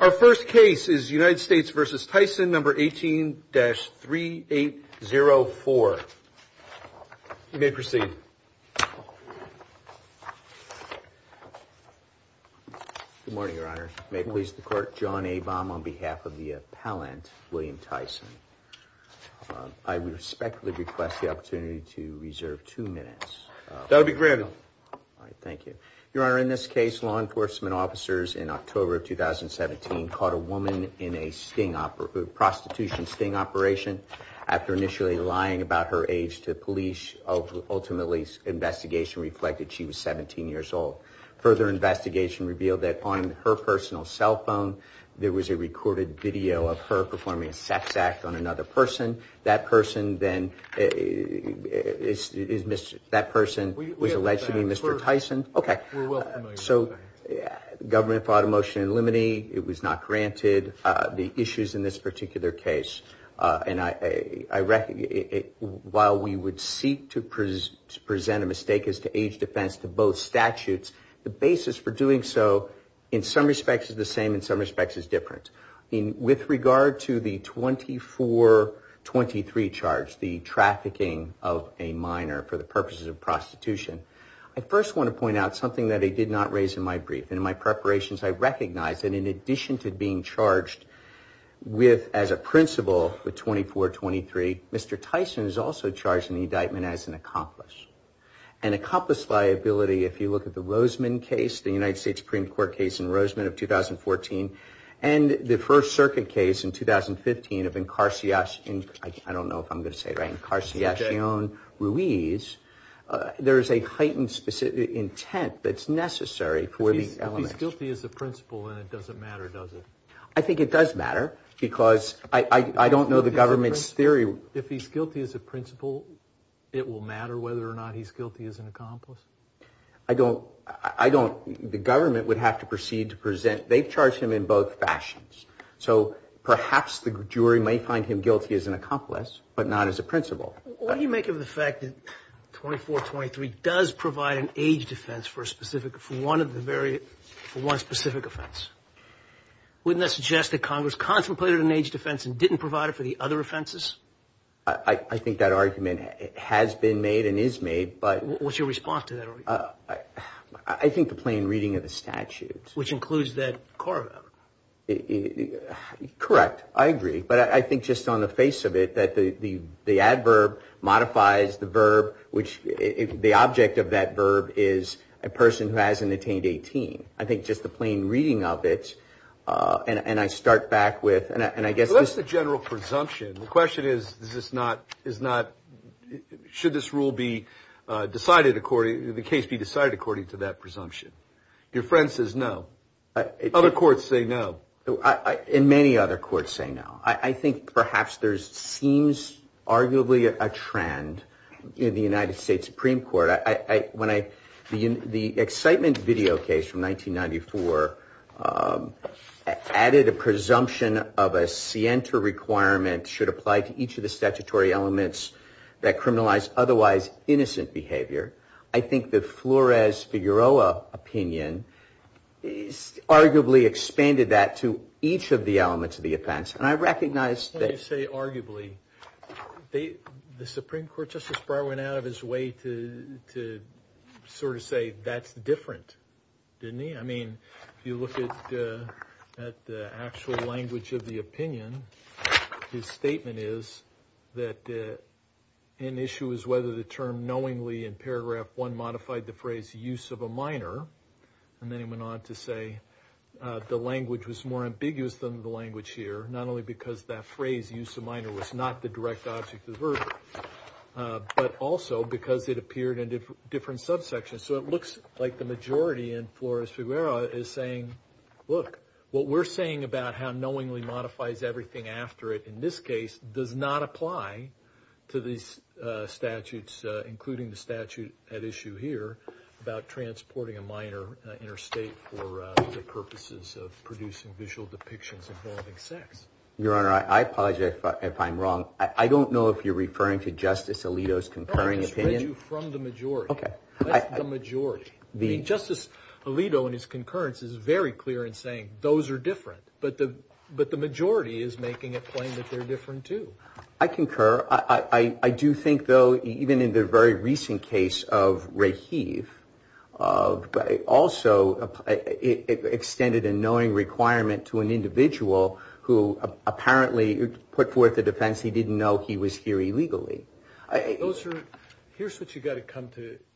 Our first case is United States v. Tyson, No. 18-3804. You may proceed. Good morning, Your Honor. May it please the Court, John A. Baum on behalf of the appellant, William Tyson. I respectfully request the opportunity to reserve two minutes. That would be granted. Thank you. Your Honor, in this case, law enforcement officers in October of 2017 caught a woman in a sting operation, prostitution sting operation, after initially lying about her age to police. Ultimately, investigation reflected she was 17 years old. Further investigation revealed that on her personal cell phone, there was a recorded video of her performing a sex act on another person. That person was allegedly Mr. Tyson. Okay. We're well familiar with that. So government fought a motion to eliminate. It was not granted. The issues in this particular case, while we would seek to present a mistake as to age defense to both statutes, the basis for doing so in some respects is the same, in some respects is different. With regard to the 2423 charge, the trafficking of a minor for the purposes of prostitution, I first want to point out something that I did not raise in my brief. In my preparations, I recognized that in addition to being charged with, as a principal, with 2423, Mr. Tyson is also charged in the indictment as an accomplice. An accomplice liability, if you look at the Roseman case, the United States Supreme Court case in Roseman of 2014, and the First Circuit case in 2015 of incarceration, I don't know if I'm going to say it right, incarceration, Ruiz, there is a heightened intent that's necessary for these elements. If he's guilty as a principal, then it doesn't matter, does it? I think it does matter, because I don't know the government's theory. If he's guilty as a principal, it will matter whether or not he's guilty as an accomplice? I don't, I don't, the government would have to proceed to present, they've charged him in both fashions. So perhaps the jury may find him guilty as an accomplice, but not as a principal. What do you make of the fact that 2423 does provide an age defense for a specific, for one of the very, for one specific offense? Wouldn't that suggest that Congress contemplated an age defense and didn't provide it for the other offenses? I think that argument has been made and is made, but. What's your response to that argument? I think the plain reading of the statute. Which includes that core of it. Correct, I agree, but I think just on the face of it, that the adverb modifies the verb, which the object of that verb is a person who hasn't attained 18. I think just the plain reading of it, and I start back with, and I guess. What's the general presumption? The question is, is this not, is not, should this rule be decided according, the case be decided according to that presumption? Your friend says no. Other courts say no. And many other courts say no. I think perhaps there seems arguably a trend in the United States Supreme Court. The excitement video case from 1994 added a presumption of a scienter requirement should apply to each of the statutory elements that criminalize otherwise innocent behavior. I think the Flores-Figueroa opinion arguably expanded that to each of the elements of the offense. And I recognize that. What I say arguably, the Supreme Court Justice Breyer went out of his way to sort of say, that's different, didn't he? I mean, if you look at the actual language of the opinion, his statement is that an issue is whether the term knowingly in paragraph one modified the phrase use of a minor, and then he went on to say the language was more ambiguous than the language here, not only because that phrase use of minor was not the direct object of the verdict, but also because it appeared in different subsections. So it looks like the majority in Flores-Figueroa is saying, look, what we're saying about how knowingly modifies everything after it in this case does not apply to these statutes, including the statute at issue here about transporting a minor interstate for the purposes of producing visual depictions involving sex. Your Honor, I apologize if I'm wrong. I don't know if you're referring to Justice Alito's concurring opinion. I just read you from the majority. Okay. That's the majority. Justice Alito in his concurrence is very clear in saying those are different, but the majority is making a claim that they're different, too. I concur. Your Honor, I do think, though, even in the very recent case of Raheve, it also extended a knowing requirement to an individual who apparently put forth a defense he didn't know he was here illegally. Here's what you've got to come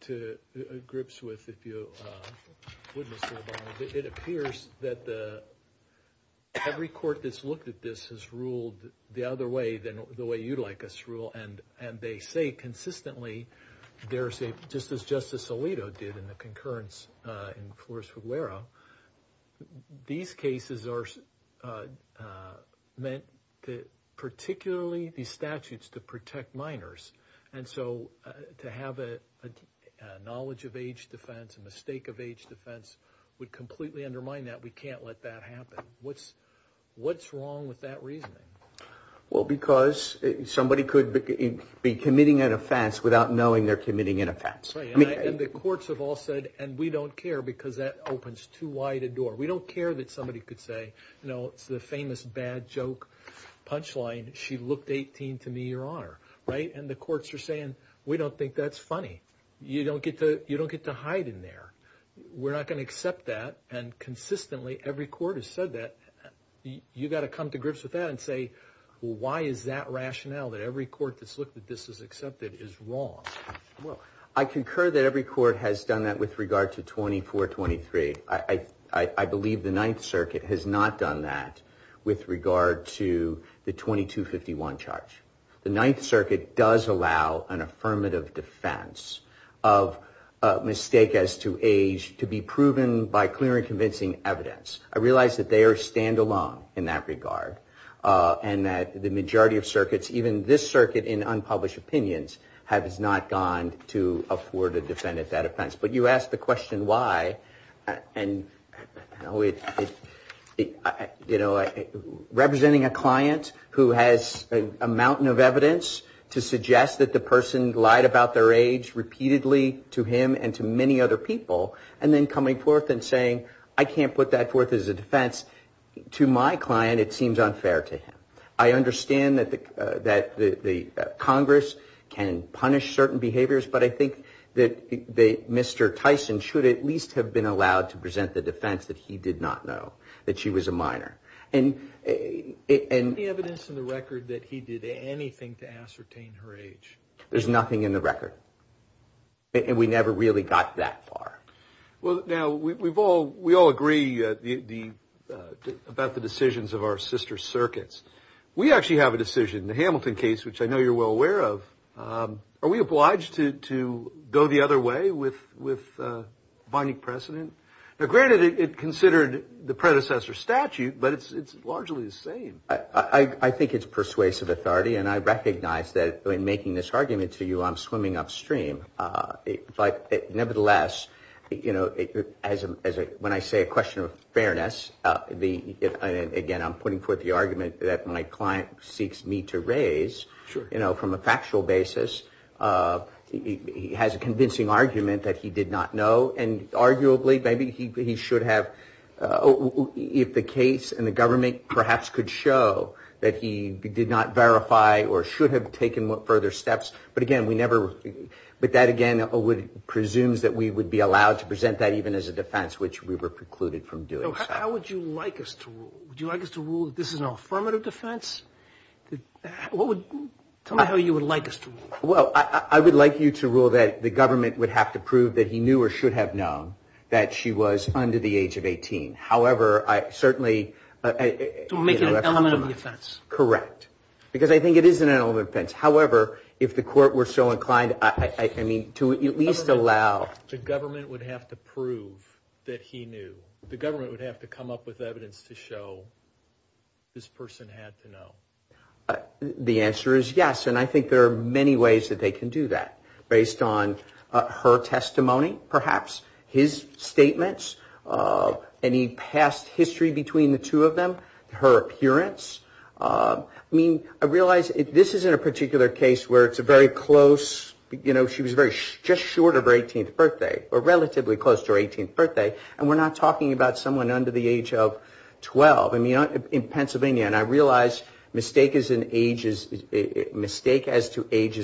to grips with if you would, Mr. Obama. It appears that every court that's looked at this has ruled the other way than the way you'd like us to rule, and they say consistently, just as Justice Alito did in the concurrence in Flores-Figueroa, these cases are meant particularly, these statutes, to protect minors. And so to have a knowledge of age defense, a mistake of age defense, would completely undermine that. We can't let that happen. What's wrong with that reasoning? Well, because somebody could be committing an offense without knowing they're committing an offense. And the courts have all said, and we don't care because that opens too wide a door. We don't care that somebody could say, you know, it's the famous bad joke punchline, she looked 18 to me, Your Honor, right? And the courts are saying, we don't think that's funny. You don't get to hide in there. We're not going to accept that. And consistently, every court has said that. You've got to come to grips with that and say, well, why is that rationale that every court that's looked at this as accepted is wrong? Well, I concur that every court has done that with regard to 2423. I believe the Ninth Circuit has not done that with regard to the 2251 charge. The Ninth Circuit does allow an affirmative defense of a mistake as to age to be proven by clear and convincing evidence. I realize that they are standalone in that regard and that the majority of circuits, even this circuit in unpublished opinions, has not gone to afford a defendant that offense. But you asked the question why. And, you know, representing a client who has a mountain of evidence to suggest that the person lied about their age repeatedly to him and to many other people and then coming forth and saying, I can't put that forth as a defense. To my client, it seems unfair to him. I understand that the Congress can punish certain behaviors, but I think that Mr. Tyson should at least have been allowed to present the defense that he did not know that she was a minor. And the evidence in the record that he did anything to ascertain her age. There's nothing in the record. And we never really got that far. Well, now, we've all we all agree the about the decisions of our sister circuits. We actually have a decision in the Hamilton case, which I know you're well aware of. Are we obliged to go the other way with with Bonnie precedent? Granted, it considered the predecessor statute, but it's largely the same. I think it's persuasive authority. And I recognize that in making this argument to you, I'm swimming upstream. But nevertheless, you know, as when I say a question of fairness, the again, I'm putting forth the argument that my client seeks me to raise, you know, from a factual basis. He has a convincing argument that he did not know. And arguably, maybe he should have. If the case and the government perhaps could show that he did not verify or should have taken further steps. But again, we never. But that, again, would presumes that we would be allowed to present that even as a defense, which we were precluded from doing. How would you like us to do you like us to rule? This is an affirmative defense. What would tell me how you would like us to? Well, I would like you to rule that the government would have to prove that he knew or should have known that she was under the age of 18. However, I certainly make an element of the offense. Correct. Because I think it is an element fence. However, if the court were so inclined, I mean, to at least allow. The government would have to prove that he knew. The government would have to come up with evidence to show this person had to know. The answer is yes. And I think there are many ways that they can do that based on her testimony, perhaps his statements, any past history between the two of them, her appearance. I mean, I realize this isn't a particular case where it's a very close, you know, she was just short of her 18th birthday or relatively close to her 18th birthday, and we're not talking about someone under the age of 12 in Pennsylvania. And I realize mistake as to age is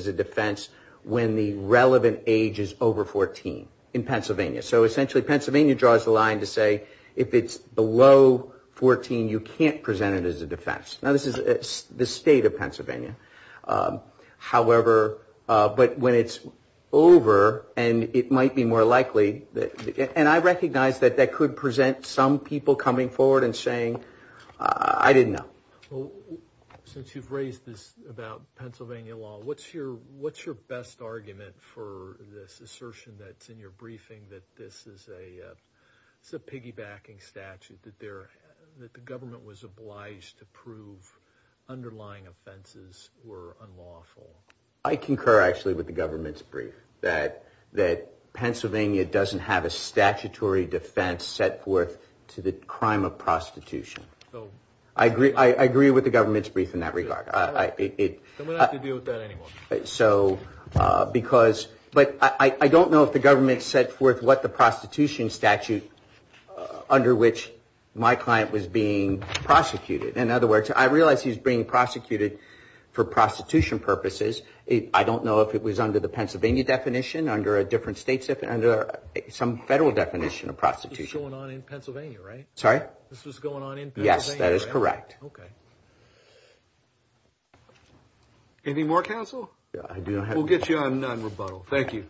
a defense when the relevant age is over 14 in Pennsylvania. So essentially Pennsylvania draws the line to say if it's below 14, you can't present it as a defense. Now, this is the state of Pennsylvania. However, but when it's over and it might be more likely, and I recognize that that could present some people coming forward and saying, I didn't know. Well, since you've raised this about Pennsylvania law, what's your best argument for this assertion that's in your briefing that this is a piggybacking statute, that the government was obliged to prove underlying offenses were unlawful? I concur, actually, with the government's brief, that Pennsylvania doesn't have a statutory defense set forth to the crime of prostitution. I agree with the government's brief in that regard. Then we don't have to deal with that anymore. But I don't know if the government set forth what the prostitution statute under which my client was being prosecuted. In other words, I realize he's being prosecuted for prostitution purposes. I don't know if it was under the Pennsylvania definition, under a different state, under some federal definition of prostitution. This was going on in Pennsylvania, right? Sorry? This was going on in Pennsylvania, right? Yes, that is correct. Okay. Any more counsel? Yeah, I do. We'll get you on rebuttal. Thank you.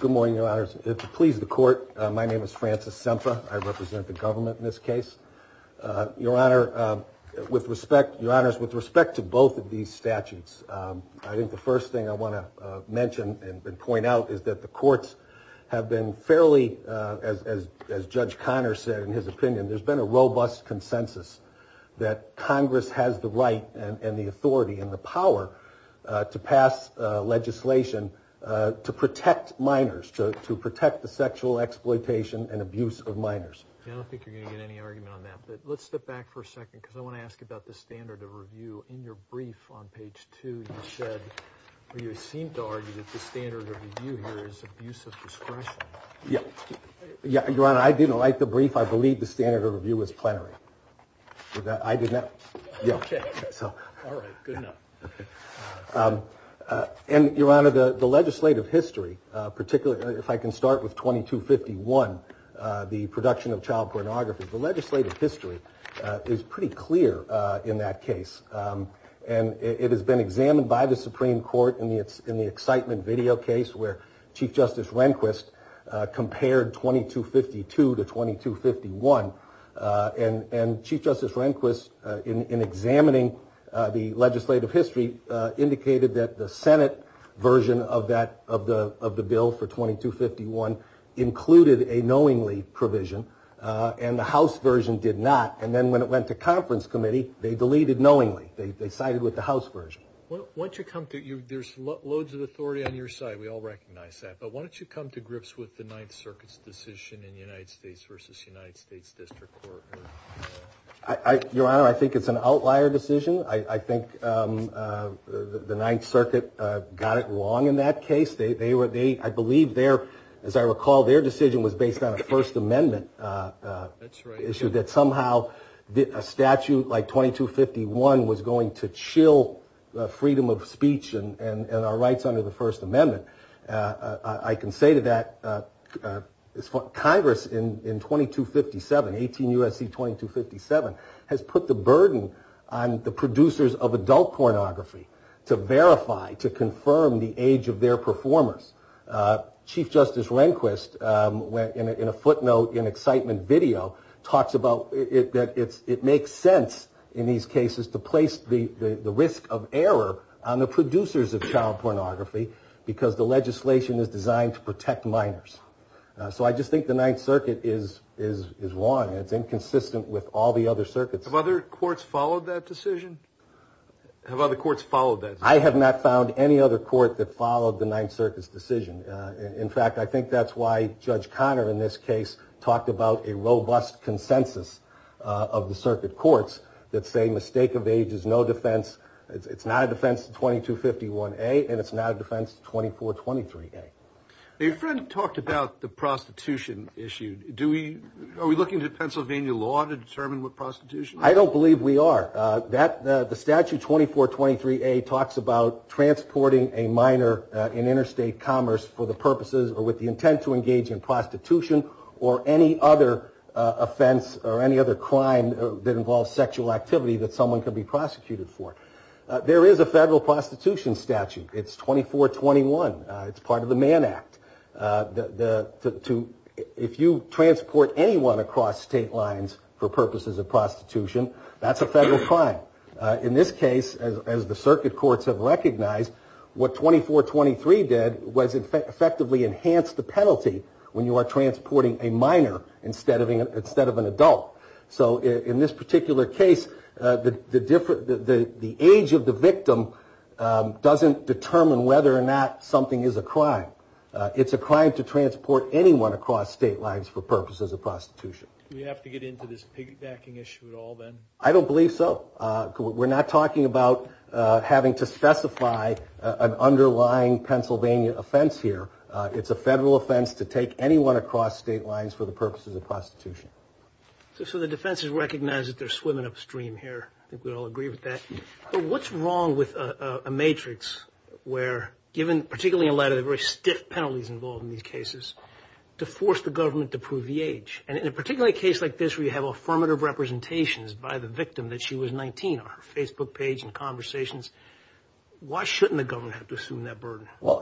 Good morning, Your Honors. To please the court, my name is Francis Sempha. I represent the government in this case. Your Honor, with respect to both of these statutes, I think the first thing I want to mention and point out is that the courts have been fairly, as Judge Conner said in his opinion, there's been a robust consensus that Congress has the right and the authority and the power to pass legislation to protect minors, to protect the sexual exploitation and abuse of minors. I don't think you're going to get any argument on that. Let's step back for a second because I want to ask about the standard of review. In your brief on page two, you said, or you seemed to argue that the standard of review here is abuse of discretion. Yeah. Your Honor, I didn't like the brief. I believe the standard of review was plenary. I did not. Okay. All right. Good enough. And, Your Honor, the legislative history, particularly if I can start with 2251, the production of child pornography, the legislative history is pretty clear in that case. And it has been examined by the Supreme Court in the excitement video case where Chief Justice Rehnquist compared 2252 to 2251. And Chief Justice Rehnquist, in examining the legislative history, indicated that the Senate version of the bill for 2251 included a knowingly provision. And the House version did not. And then when it went to conference committee, they deleted knowingly. They sided with the House version. There's loads of authority on your side. We all recognize that. But why don't you come to grips with the Ninth Circuit's decision in United States versus United States District Court? Your Honor, I think it's an outlier decision. I think the Ninth Circuit got it wrong in that case. I believe their, as I recall, their decision was based on a First Amendment issue that somehow a statute like 2251 was going to chill freedom of speech and our rights under the First Amendment. I can say to that Congress in 2257, 18 U.S.C. 2257, has put the burden on the producers of adult pornography to verify, to confirm the age of their performers. Chief Justice Rehnquist, in a footnote in excitement video, talks about that it makes sense in these cases to place the risk of error on the producers of child pornography because the legislation is designed to protect minors. So I just think the Ninth Circuit is wrong. It's inconsistent with all the other circuits. Have other courts followed that decision? Have other courts followed that decision? I have not found any other court that followed the Ninth Circuit's decision. In fact, I think that's why Judge Conner in this case talked about a robust consensus of the circuit courts that say mistake of age is no defense. It's not a defense to 2251A and it's not a defense to 2423A. Your friend talked about the prostitution issue. Are we looking to Pennsylvania law to determine what prostitution is? I don't believe we are. The statute 2423A talks about transporting a minor in interstate commerce for the purposes or with the intent to engage in prostitution or any other offense or any other crime that involves sexual activity that someone can be prosecuted for. There is a federal prostitution statute. It's 2421. It's part of the Mann Act. If you transport anyone across state lines for purposes of prostitution, that's a federal crime. In this case, as the circuit courts have recognized, what 2423 did was effectively enhance the penalty when you are transporting a minor instead of an adult. So in this particular case, the age of the victim doesn't determine whether or not something is a crime. It's a crime to transport anyone across state lines for purposes of prostitution. Do we have to get into this piggybacking issue at all then? I don't believe so. We're not talking about having to specify an underlying Pennsylvania offense here. It's a federal offense to take anyone across state lines for the purposes of prostitution. So the defense has recognized that they're swimming upstream here. I think we all agree with that. But what's wrong with a matrix where, given particularly in light of the very stiff penalties involved in these cases, to force the government to prove the age? And in a particular case like this where you have affirmative representations by the victim that she was 19 on her Facebook page and conversations, why shouldn't the government have to assume that burden? Well,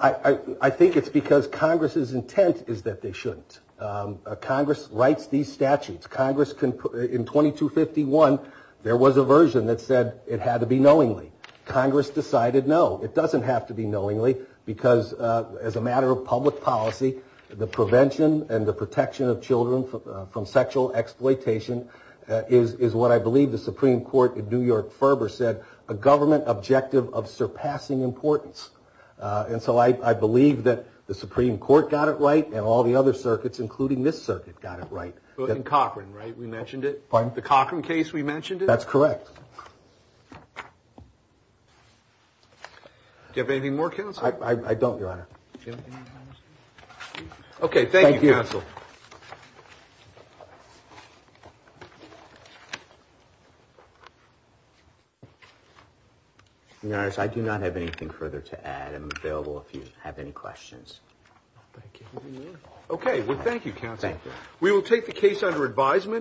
I think it's because Congress's intent is that they shouldn't. Congress writes these statutes. In 2251, there was a version that said it had to be knowingly. Congress decided no, it doesn't have to be knowingly, because as a matter of public policy, the prevention and the protection of children from sexual exploitation is what I believe the Supreme Court in New York-Ferber said, a government objective of surpassing importance. And so I believe that the Supreme Court got it right and all the other circuits, including this circuit, got it right. In Cochran, right, we mentioned it? Pardon? The Cochran case, we mentioned it? That's correct. Do you have anything more, Counselor? I don't, Your Honor. Okay, thank you, Counsel. Your Honor, I do not have anything further to add. I'm available if you have any questions. Okay, well, thank you, Counselor. Thank you. We will take the case under advisement.